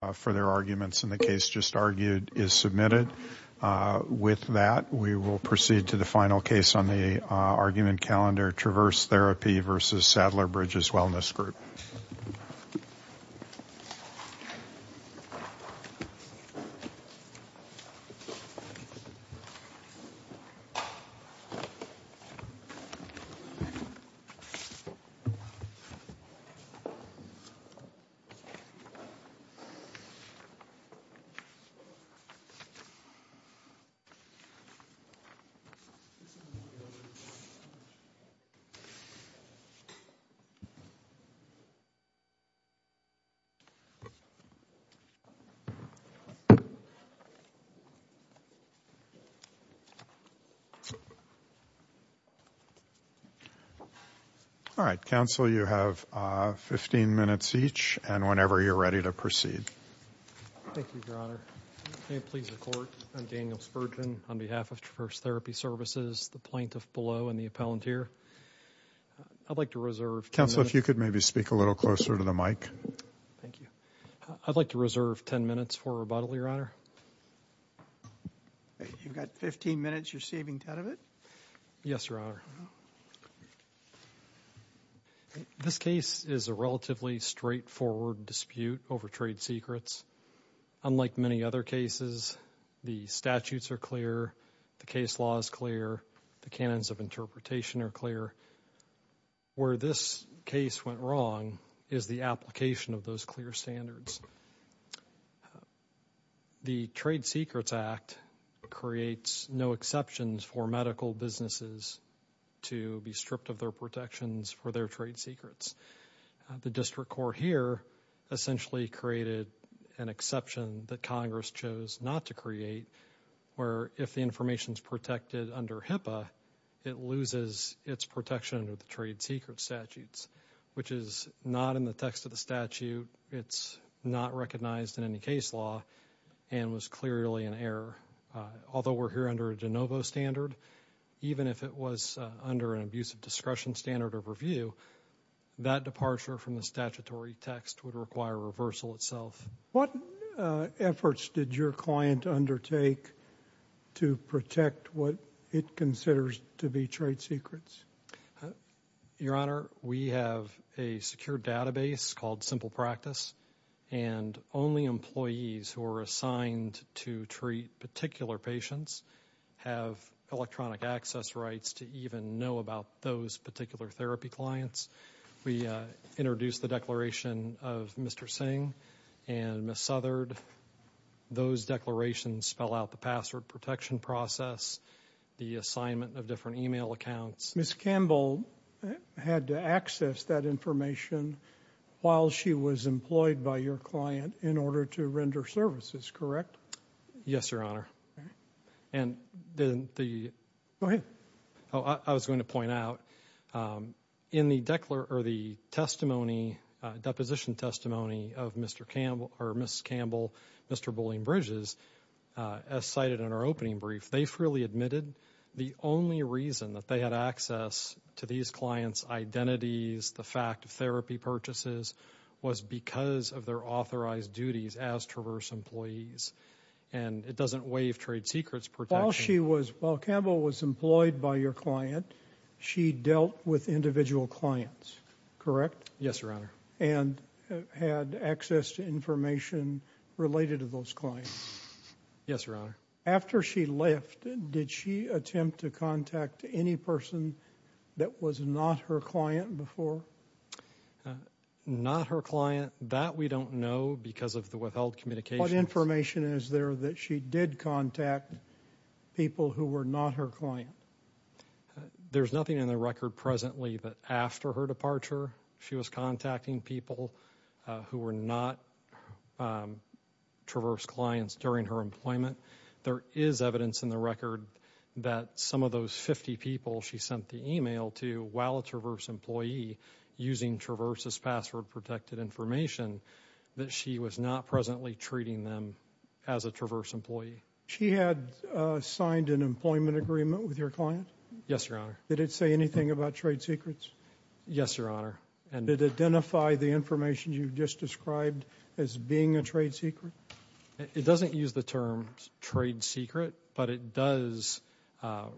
and the case just argued is submitted. With that, we will proceed to the final case on the argument calendar, Traverse Therapy v. Sadler-Bridges Wellness Group. All right. Counsel, you have 15 minutes each, and whenever you're ready to proceed. Thank you, Your Honor. May it please the Court, I'm Daniel Spurgeon on behalf of Traverse Therapy Services, the plaintiff below and the appellant here. I'd like to reserve... Counsel, if you could maybe speak a little closer to the mic. Thank you. I'd like to reserve 10 minutes for rebuttal, Your Honor. You've got 15 minutes, you're saving 10 of it? Yes, Your Honor. Thank you, Your Honor. This case is a relatively straightforward dispute over trade secrets. Unlike many other cases, the statutes are clear, the case law is clear, the canons of interpretation are clear. Where this case went wrong is the application of those clear standards. The Trade Secrets Act creates no exceptions for medical businesses to be stripped of their protections for their trade secrets. The district court here essentially created an exception that Congress chose not to create, where if the information is protected under HIPAA, it loses its protection under the trade secret statutes, which is not in the text of the statute. It's not recognized in any case law and was clearly an error. Although we're here under a de novo standard, even if it was under an abusive discretion standard of review, that departure from the statutory text would require reversal itself. What efforts did your client undertake to protect what it considers to be trade secrets? Your Honor, we have a secure database called Simple Practice, and only employees who are assigned to treat particular patients have electronic access rights to even know about those particular therapy clients. We introduced the declaration of Mr. Singh and Ms. Southerd. Those declarations spell out the password protection process, the assignment of different email accounts. Ms. Campbell had to access that information while she was employed by your client in order to render services, correct? Yes, Your Honor. Go ahead. I was going to point out, in the deposition testimony of Ms. Campbell, Mr. Bulling Bridges, as cited in our opening brief, they freely admitted the only reason that they had access to these clients' identities, the fact of therapy purchases, was because of their authorized duties as Traverse employees. And it doesn't waive trade secrets protection. While Ms. Campbell was employed by your client, she dealt with individual clients, correct? Yes, Your Honor. And had access to information related to those clients? Yes, Your Honor. After she left, did she attempt to contact any person that was not her client before? Not her client, that we don't know because of the withheld communications. What information is there that she did contact people who were not her client? There's nothing in the record presently that after her departure she was contacting people who were not Traverse clients during her employment. There is evidence in the record that some of those 50 people she sent the email to, while a Traverse employee, using Traverse's password-protected information, that she was not presently treating them as a Traverse employee. She had signed an employment agreement with your client? Yes, Your Honor. Did it say anything about trade secrets? Yes, Your Honor. Did it identify the information you just described as being a trade secret? It doesn't use the term trade secret, but it does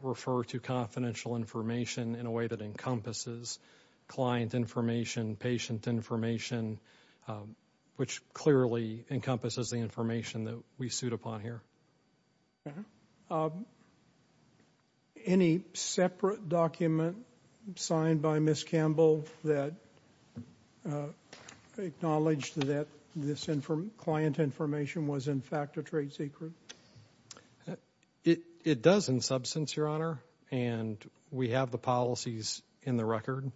refer to confidential information in a way that encompasses client information, patient information, which clearly encompasses the information that we suit upon here. Any separate document signed by Ms. Campbell that acknowledged that this client information was in fact a trade secret? It does in substance, Your Honor, and we have the policies in the record,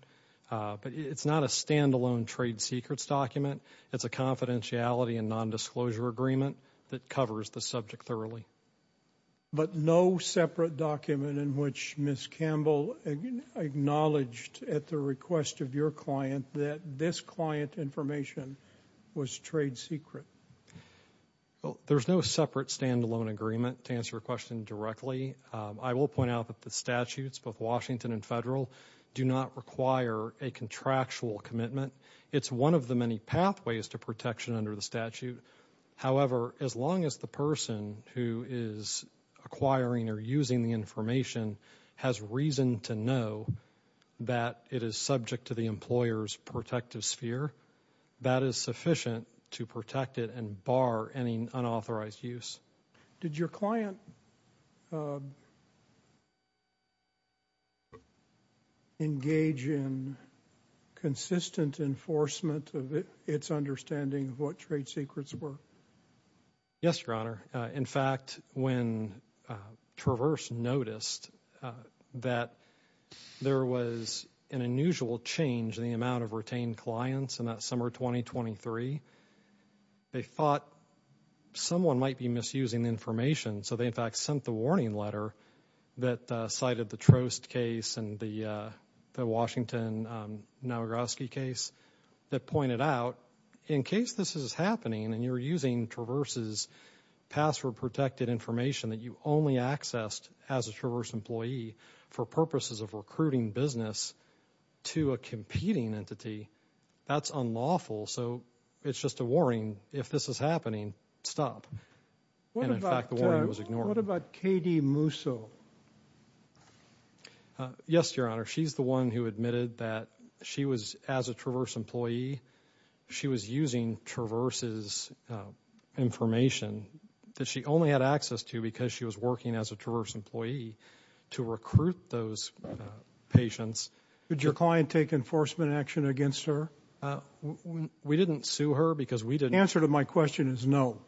but it's not a stand-alone trade secrets document. It's a confidentiality and non-disclosure agreement that covers the subject thoroughly. But no separate document in which Ms. Campbell acknowledged at the request of your client that this client information was trade secret? There's no separate stand-alone agreement, to answer your question directly. I will point out that the statutes, both Washington and federal, do not require a contractual commitment. It's one of the many pathways to protection under the statute. However, as long as the person who is acquiring or using the information has reason to know that it is subject to the employer's protective sphere, that is sufficient to protect it and bar any unauthorized use. Did your client engage in consistent enforcement of its understanding of what trade secrets were? Yes, Your Honor. In fact, when Traverse noticed that there was an unusual change in the amount of retained clients in that summer of 2023, they thought someone might be misusing the information. So they in fact sent the warning letter that cited the Trost case and the Washington-Nowagroski case that pointed out, in case this is happening and you're using Traverse's password-protected information that you only accessed as a Traverse employee for purposes of recruiting business to a competing entity, that's unlawful. So it's just a warning. If this is happening, stop. And in fact, the warning was ignored. What about Katie Musso? Yes, Your Honor. She's the one who admitted that she was, as a Traverse employee, she was using Traverse's information that she only had access to because she was working as a Traverse employee to recruit those patients. Did your client take enforcement action against her? We didn't sue her because we didn't. The answer to my question is no.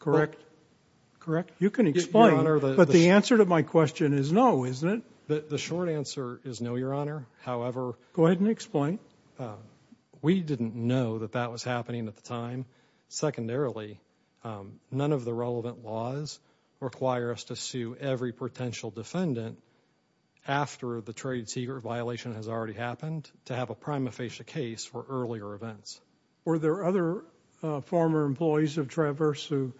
Correct. Correct. You can explain, but the answer to my question is no, isn't it? The short answer is no, Your Honor. However... Go ahead and explain. We didn't know that that was happening at the time. Secondarily, none of the relevant laws require us to sue every potential defendant after the trade secret violation has already happened to have a prima facie case for earlier events. Were there other former employees of Traverse who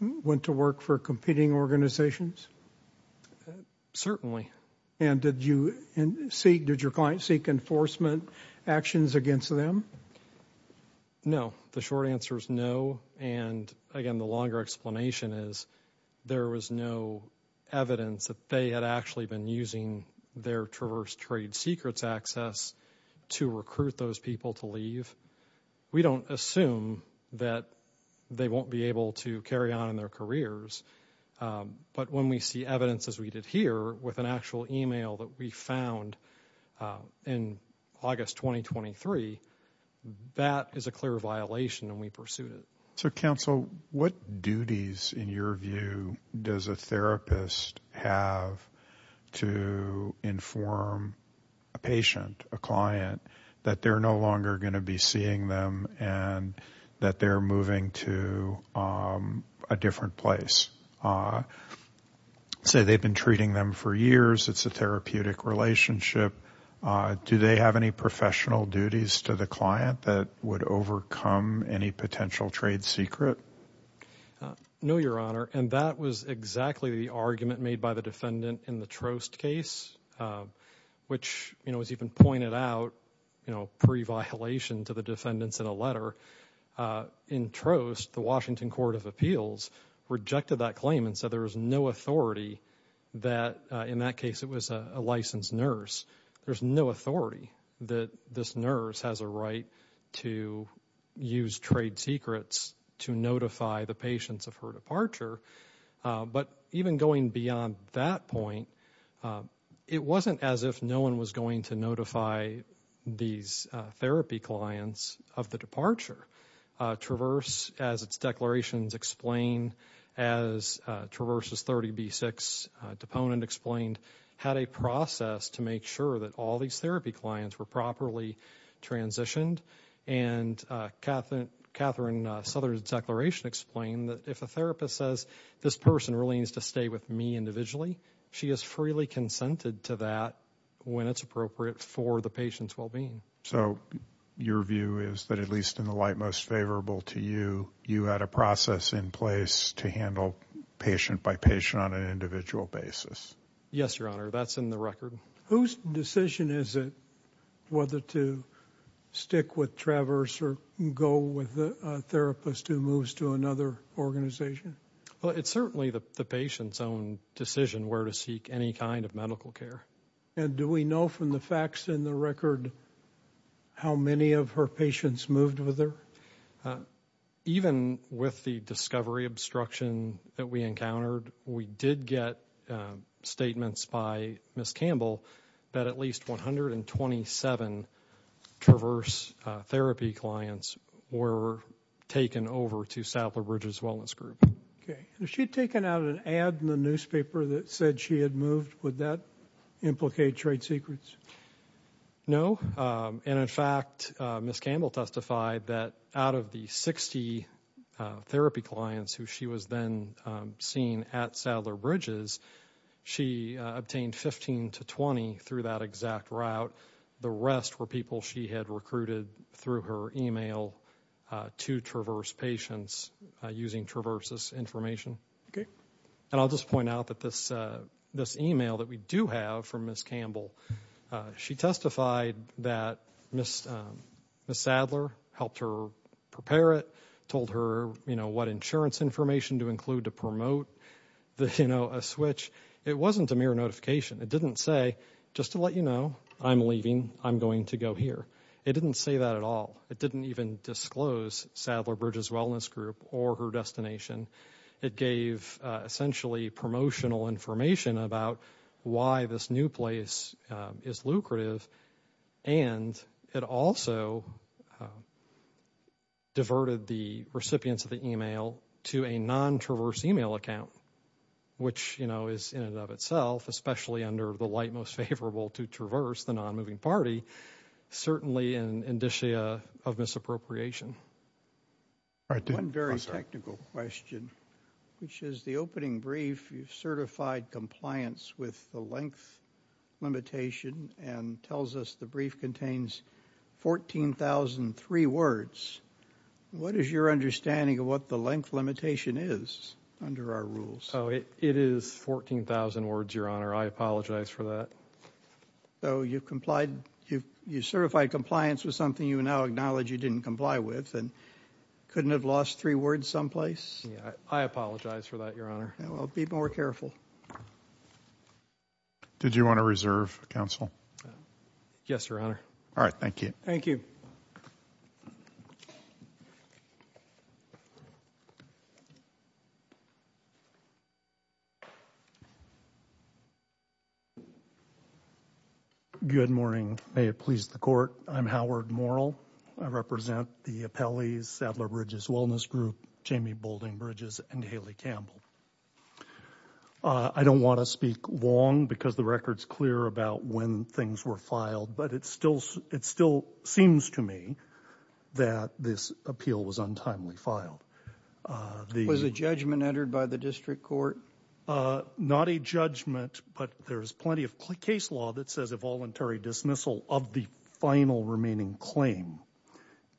went to work for competing organizations? Certainly. And did your client seek enforcement actions against them? No. The short answer is no. And again, the longer explanation is there was no evidence that they had actually been using their Traverse trade secrets access to recruit those people to leave. We don't assume that they won't be able to carry on in their careers. But when we see evidence as we did here with an actual email that we found in August 2023, that is a clear violation and we pursued it. So counsel, what duties in your view does a therapist have to inform a patient, a client, that they're no longer going to be seeing them and that they're moving to a different place? Say they've been treating them for years, it's a therapeutic relationship. Do they have any professional duties to the client that would overcome any potential trade secret? No, Your Honor. And that was exactly the argument made by the defendant in the Trost case, which was even pointed out pre-violation to the defendants in a letter. In Trost, the Washington Court of Appeals rejected that claim and said there was no authority that in that case it was a licensed nurse. There's no authority that this nurse has a right to use trade secrets to notify the patients of her departure. But even going beyond that point, it wasn't as if no one was going to notify these therapy clients of the departure. Traverse, as its declarations explain, as Traverse's 30B6 deponent explained, had a process to make sure that all these therapy clients were properly transitioned. And Katherine Southern's declaration explained that if a therapist says, this person really needs to stay with me individually, she is freely consented to that when it's appropriate for the patient's well-being. So your view is that at least in the light most favorable to you, you had a process in place to handle patient by patient on an individual basis? Yes, Your Honor. That's in the record. Whose decision is it whether to stick with Traverse or go with a therapist who moves to another organization? Well, it's certainly the patient's own decision where to seek any kind of medical care. And do we know from the facts in the record how many of her patients moved with her? Even with the discovery obstruction that we encountered, we did get statements by Ms. Campbell that at least 127 Traverse therapy clients were taken over to Sappler Bridges Wellness Group. Okay. And if she'd taken out an ad in the newspaper that said she had moved, would that implicate trade secrets? No. And in fact, Ms. Campbell testified that out of the 60 therapy clients who she was then seeing at Sappler Bridges, she obtained 15 to 20 through that exact route. The rest were people she had recruited through her email to Traverse patients using Traverse's information. Okay. And I'll just point out that this email that we do have from Ms. Campbell, she testified that Ms. Sadler helped her prepare it, told her what insurance information to include to promote a switch. It wasn't a mere notification. It didn't say, just to let you know, I'm leaving. I'm going to go here. It didn't say that at all. It didn't disclose Sappler Bridges Wellness Group or her destination. It gave essentially promotional information about why this new place is lucrative. And it also diverted the recipients of the email to a non-Traverse email account, which, you know, is in and of itself, especially under the light most favorable to Traverse, the non-moving party, certainly an indicia of misappropriation. One very technical question, which is the opening brief, you've certified compliance with the length limitation and tells us the brief contains 14,003 words. What is your understanding of what the length limitation is under our rules? Oh, it is 14,000 words, Your Honor. I apologize for that. So you've complied, you've certified compliance with something you now acknowledge you didn't comply with and couldn't have lost three words someplace? I apologize for that, Your Honor. Well, be more careful. Did you want to reserve, Counsel? Yes, Your Honor. All right. Thank you. Thank you. Good morning. May it please the Court. I'm Howard Morrell. I represent the appellees, Sadler Bridges Wellness Group, Jamie Boulding Bridges, and Haley Campbell. I don't want to speak long because the record's clear about when things were filed, but it still seems to me that this appeal was untimely filed. Was a judgment entered by the District Court? Not a judgment, but there's plenty of case law that says a voluntary dismissal of the final remaining claim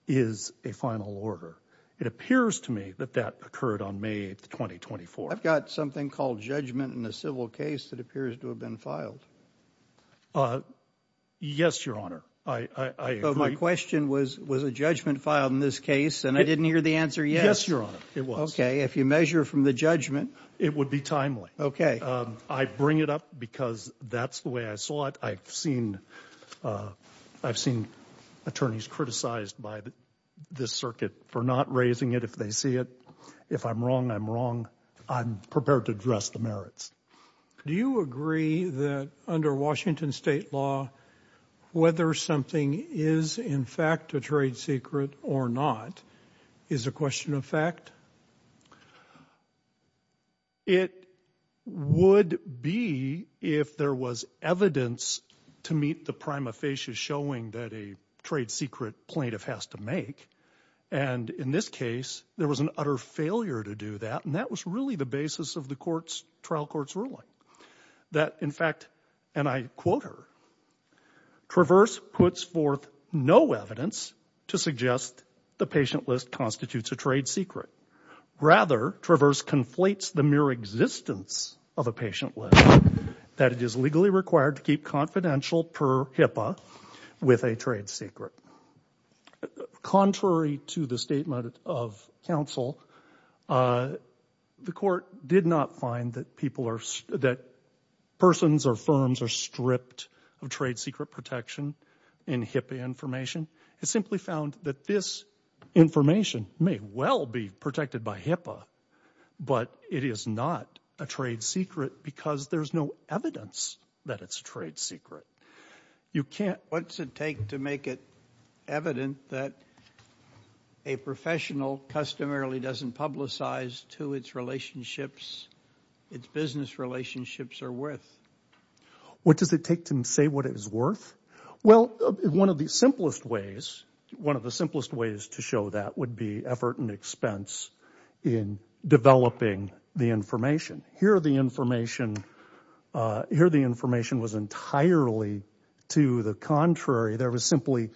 is a final order. It appears to me that that occurred on May 8, 2024. I've got something called judgment in a civil case that appears to have been filed. Yes, Your Honor. I agree. So my question was, was a judgment filed in this case, and I didn't hear the answer yet. Yes, Your Honor, it was. Okay. If you measure from the judgment... It would be timely. I bring it up because that's the way I saw it. I've seen attorneys criticized by this circuit for not raising it if they see it. If I'm wrong, I'm wrong. I'm prepared to address the merits. Do you agree that under Washington state law, whether something is in fact a trade secret or not is a question of fact? It would be if there was evidence to meet the prima facie showing that a trade secret plaintiff has to make. And in this case, there was an utter failure to do that, and that was really the basis of the trial court's ruling. That, in fact, and I quote her, Traverse puts forth no evidence to suggest the patient list constitutes a trade secret. Rather, Traverse conflates the mere existence of a patient list that it is legally required to keep confidential per HIPAA with a trade secret. Contrary to the statement of counsel, the court did not find that persons or firms are stripped of trade secret protection in HIPAA information. It simply found that this information may well be protected by HIPAA, but it is not a trade secret because there's no evidence that it's a trade secret. What's it take to make it evident that a professional customarily doesn't publicize to its relationships, its business relationships or worth? What does it take to say what it is worth? Well, one of the simplest ways to show that would be effort and expense in developing the information. Here the information was entirely to the contrary. There was simply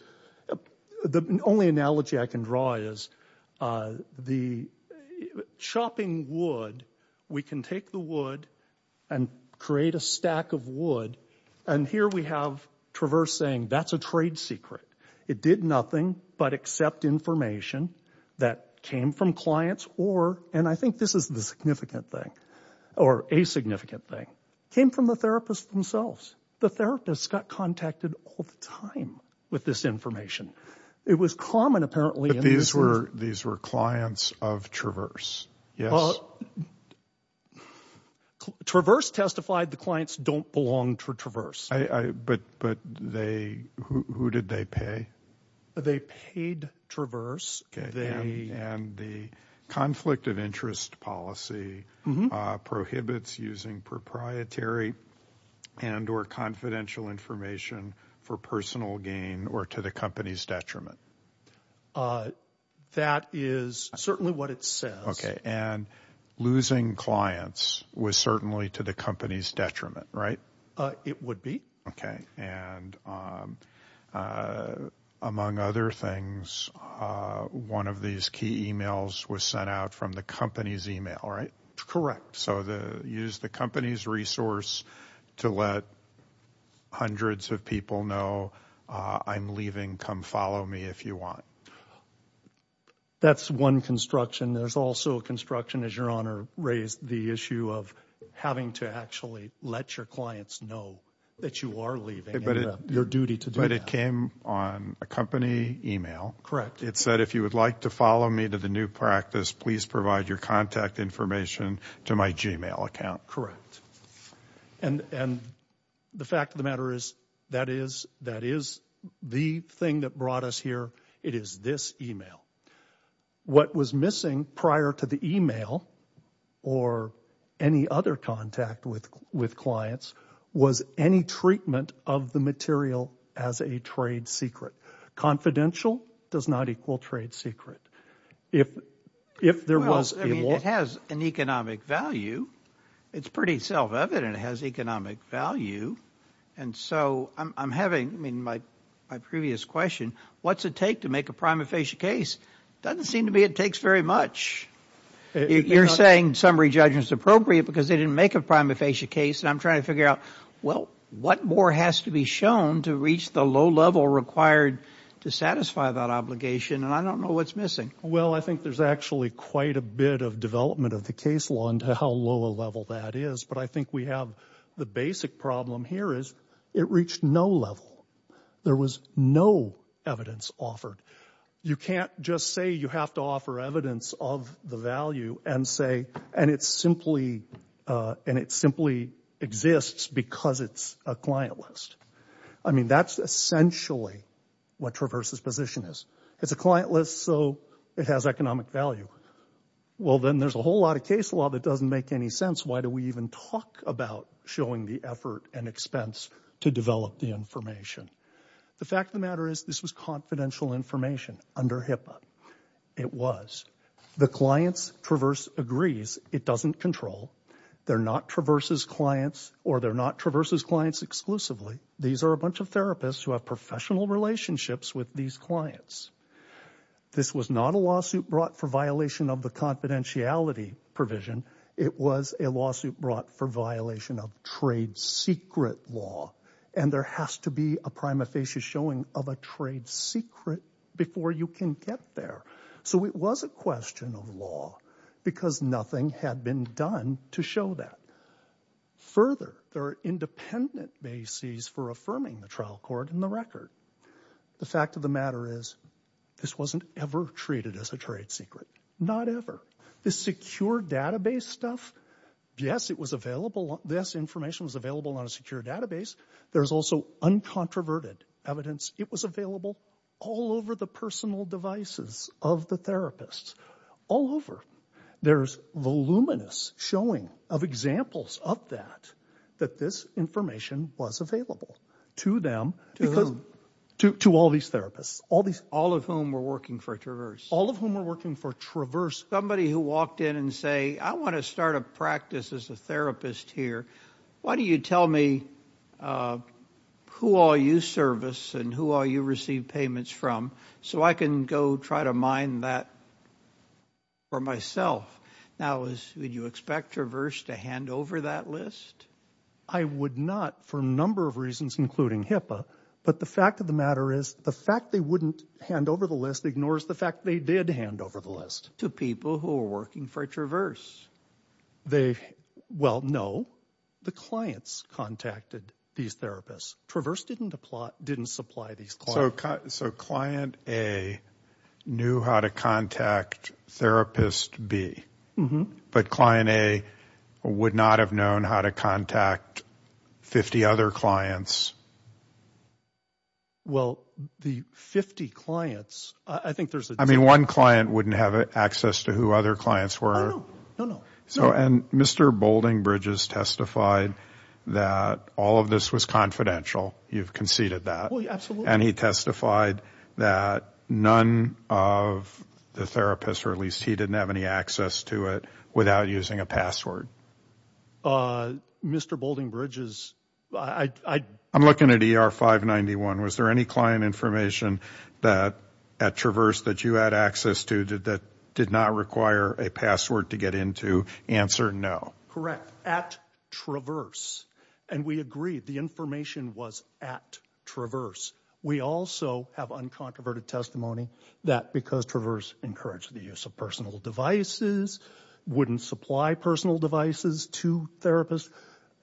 the only analogy I can draw is the chopping wood. We can take the wood and create a stack of wood. And here we have Traverse saying that's a trade secret. It did nothing but accept information that came from clients or and I think this is the significant thing. Or a significant thing. Came from the therapist themselves. The therapist got contacted all the time with this information. It was common apparently. These were clients of Traverse. Yes. Traverse testified the clients don't belong to Traverse. But who did they pay? They paid Traverse. And the conflict of interest policy prohibits using proprietary and or confidential information for personal gain or to the company's detriment. That is certainly what it says. Okay. And losing clients was certainly to the company's detriment, right? It would be. Okay. And among other things, one of these key emails was sent out from the company's email, right? Correct. So the use the company's resource to let hundreds of people know I'm leaving. Come follow me if you want. That's one construction. There's also a construction as your honor raised the issue of having to actually let your clients know that you are leaving. Your duty to do that. But it came on a company email. It said if you would like to follow me to the new practice, please provide your contact information to my Gmail account. Correct. And the fact of the matter is that is the thing that brought us here. It is this email. What was missing prior to the email or any other contact with clients was any treatment of the material as a trade secret. Confidential does not equal trade secret. It has an economic value. It's pretty self-evident. It has economic value. And so I'm having my previous question. What's it take to make a prima facie case? Doesn't seem to be it takes very much. You're saying summary judgment is appropriate because they didn't make a prima facie case. And I'm trying to figure out, well, what more has to be shown to reach the low level required to satisfy that obligation? And I don't know what's missing. Well, I think there's actually quite a bit of development of the case law into how low a level that is. But I think we have the basic problem here is it reached no level. There was no evidence offered. You can't just say you have to offer evidence of the value and say, and it simply exists because it's a client list. I mean, that's essentially what Traverse's position is. It's a client list, so it has economic value. Well, then there's a whole lot of case law that doesn't make any sense. Talk about showing the effort and expense to develop the information. The fact of the matter is this was confidential information under HIPAA. It was. The client's Traverse agrees it doesn't control. They're not Traverse's clients or they're not Traverse's clients exclusively. These are a bunch of therapists who have professional relationships with these clients. This was not a lawsuit brought for violation of the confidentiality provision. It was a lawsuit brought for violation of trade secret law. And there has to be a prima facie showing of a trade secret before you can get there. So it was a question of law because nothing had been done to show that. Further, there are independent bases for affirming the trial court in the record. The fact of the matter is this wasn't ever treated as a trade secret. Not ever. The case stuff, yes, it was available. This information was available on a secure database. There's also uncontroverted evidence. It was available all over the personal devices of the therapists. All over. There's voluminous showing of examples of that, that this information was available to them. To whom? To all these therapists. All of whom were working for Traverse? All of whom were working for Traverse. I'm going to start a practice as a therapist here. Why don't you tell me who all you service and who all you receive payments from so I can go try to mine that for myself. Now, would you expect Traverse to hand over that list? I would not for a number of reasons, including HIPAA. But the fact of the matter is the fact they wouldn't hand over the list ignores the fact they did hand over the list to people who were working for Traverse. They, well, no, the clients contacted these therapists. Traverse didn't supply these clients. So client A knew how to contact therapist B. But client A would not have known how to contact 50 other clients. Well, the 50 clients, I think there's a difference. I mean, one client wouldn't have access to who other clients were. No, no, no, no. And Mr. Boulding Bridges testified that all of this was confidential. You've conceded that. And he testified that none of the therapists, or at least he didn't have any access to it, without using a password. Mr. Boulding Bridges, I... I'm looking at ER 591. Was there any client information at Traverse that you had access to that did not require a password to get into? Answer, no. Correct. At Traverse. And we agreed the information was at Traverse. We also have uncontroverted testimony that because Traverse encouraged the use of personal devices, wouldn't supply personal devices to therapists,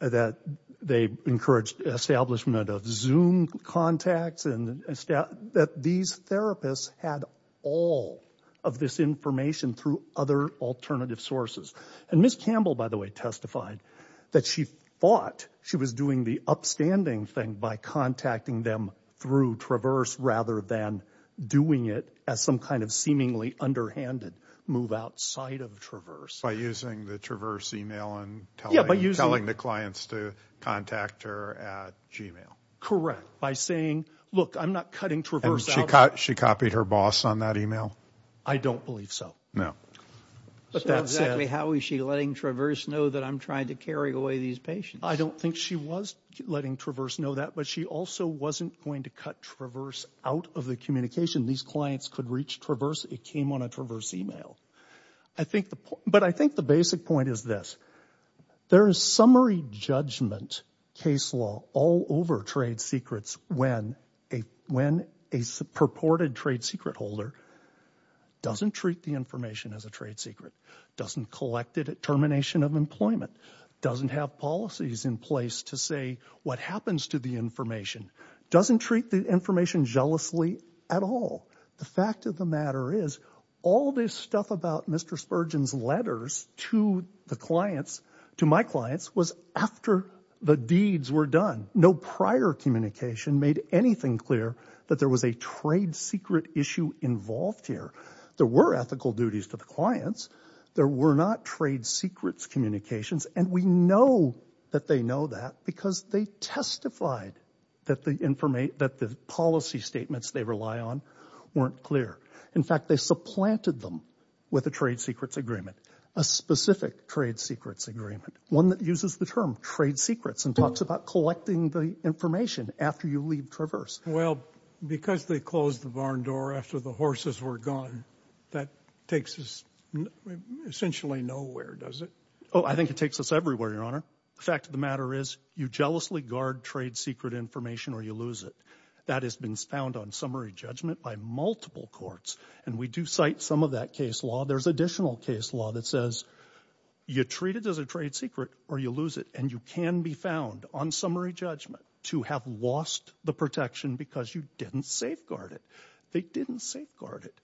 that they encouraged establishment of Zoom contacts, and that these therapists had all of this information through other alternative sources. And Ms. Campbell, by the way, testified that she thought she was doing the upstanding thing by contacting them through Traverse rather than doing it as some kind of seemingly underhanded move outside of Traverse. By using the Traverse email and telling the clients to contact her at Gmail. Correct. By saying, look, I'm not cutting Traverse out... And she copied her boss on that email? I don't believe so. No. But that said... So exactly how is she letting Traverse know that I'm trying to carry away these patients? I don't think she was letting Traverse know that, but she also wasn't going to cut Traverse out of the communication. These clients could reach Traverse, it came on a Traverse email. I think the... but I think the basic point is this. There is summary judgment case law all over trade secrets when a purported trade secret holder doesn't treat the information as a trade secret, doesn't collect it at termination of employment, doesn't have policies in place to say what happens to the information, doesn't treat the information jealously at all. The fact of the matter is all this stuff about Mr. Spurgeon's letters to the clients, to my clients, was after the deeds were done. No prior communication made anything clear that there was a trade secret issue involved here. There were ethical duties to the clients. There were not trade secrets communications, and we know that they know that because they testified that the policy statements they rely on weren't clear. In fact, they supplanted them with a trade secrets agreement, a specific trade secrets agreement, one that uses the term trade secrets and talks about collecting the information after you leave Traverse. Well, because they closed the barn door after the horses were gone, that takes us essentially nowhere, does it? Oh, I think it takes us everywhere, Your Honor. The fact of the matter is you jealously guard trade secret information or you lose it. That has been found on summary judgment by multiple courts, and we do cite some of that case law. There's additional case law that says you treat it as a trade secret or you lose it, and you can be found on summary judgment to have lost the protection because you didn't safeguard it. They didn't safeguard it.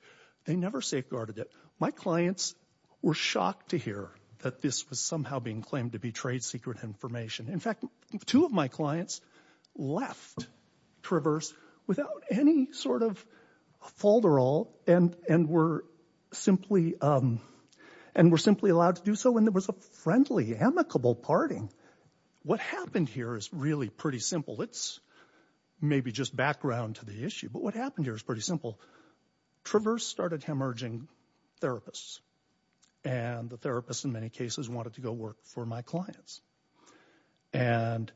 They never safeguarded it. My clients were shocked to hear that this was somehow being claimed to be trade secret information. In fact, two of my clients left Traverse without any sort of fault at all and were simply allowed to do so when there was a friendly, amicable parting. What happened here is really pretty simple. It's maybe just background to the issue, but what happened here is pretty simple. Traverse started hemorrhaging therapists, and the therapists in many cases wanted to go work for my clients. And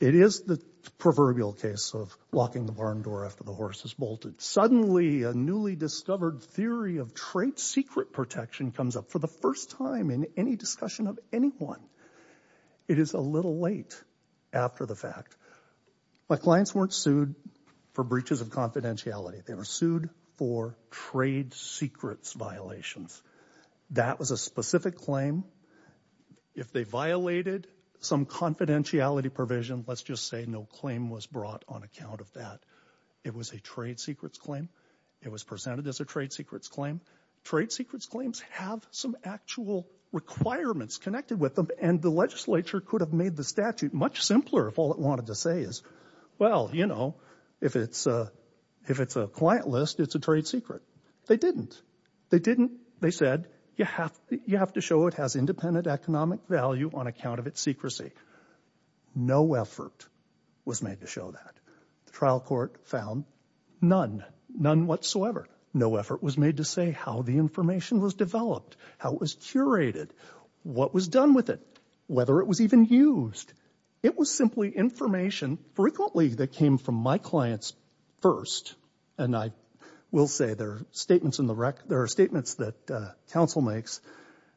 it is the proverbial case of locking the barn door after the horse has bolted. Suddenly, a newly discovered theory of trade secret protection comes up for the first time in any discussion of anyone. It is a little late after the fact. My clients weren't sued for breaches of confidentiality. They were sued for trade secrets violations. That was a specific claim. If they violated some confidentiality provision, let's just say no claim was brought on account of that. It was a trade secrets claim. It was presented as a trade secrets claim. Trade secrets claims have some actual requirements connected with them, and the legislature could have made the statute much simpler if all it wanted to say is, well, you know, if it's a client list, it's a trade secret. They didn't. They said, you have to show it has independent economic value on account of its secrecy. No effort was made to show that. The trial court found none, none whatsoever. No effort was made to say how the information was developed, how it was curated, what was done with it, whether it was even used. It was simply information frequently that came from my clients first, and I will say their statements in the record that there are statements that counsel makes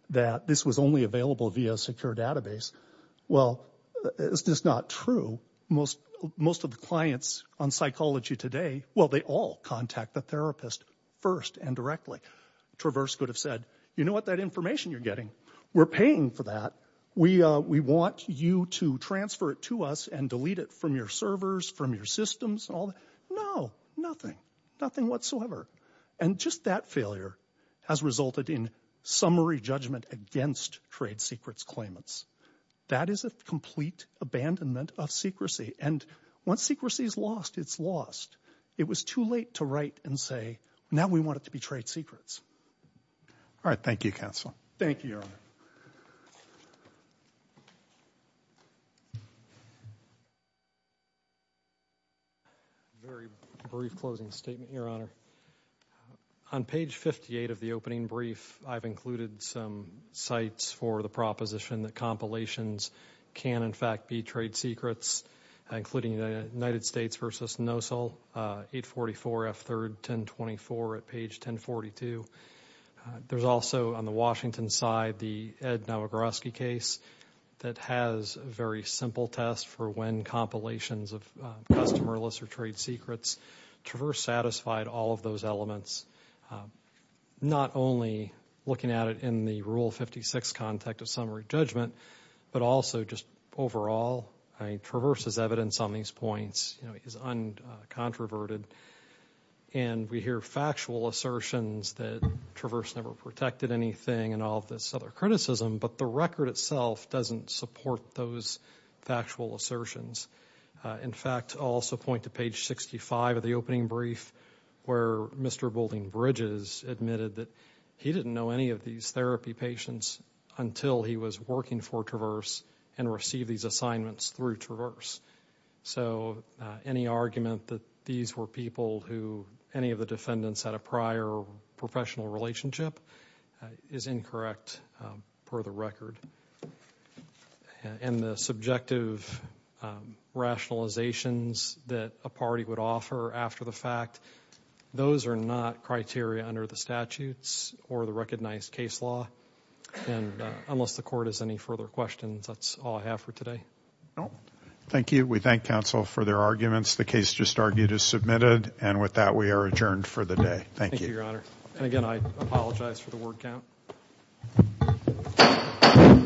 that this was only available via a secure database. Well, it's just not true. Most of the clients on psychology today, well, they all contact the therapist first and directly. Traverse could have said, you know what, that information you're getting, we're paying for that. We want you to transfer it to us and delete it from your servers, from your systems. No, nothing, nothing whatsoever. And just that failure has resulted in summary judgment against trade secrets claimants. That is a complete abandonment of secrecy. And once secrecy is lost, it's lost. It was too late to write and say, now we want it to be trade secrets. All right, thank you, counsel. Thank you, Your Honor. Very brief closing statement, Your Honor. On page 58 of the opening brief, I've included some sites for the proposition that compilations can, in fact, be trade secrets, including the United States v. NOSL, 844 F3rd 1024 at page 1042. There's also, on the Washington side, the Ed Nowagoroski case that has a very simple test for when compilations of customer lists or trade secrets, Traverse satisfied all of those elements, not only looking at it in the Rule 56 context of summary judgment, but also just overall, Traverse's evidence on these points is uncontroverted. And we hear factual assertions that Traverse never protected anything and all of this other criticism, but the record itself doesn't support those factual assertions. In fact, I'll also point to page 65 of the opening brief where Mr. Boulding Bridges admitted that he didn't know any of these therapy patients until he was working for Traverse and received these assignments through Traverse. So any argument that these were people who any of the defendants had a prior professional relationship is incorrect per the record. And the subjective rationalizations that a party would offer after the fact, those are not criteria under the statutes or the recognized case law. And unless the court has any further questions, that's all I have for today. Thank you. We thank counsel for their arguments. The case just argued is submitted and with that we are adjourned for the day. Thank you, Your Honor. And again, I apologize for the word count.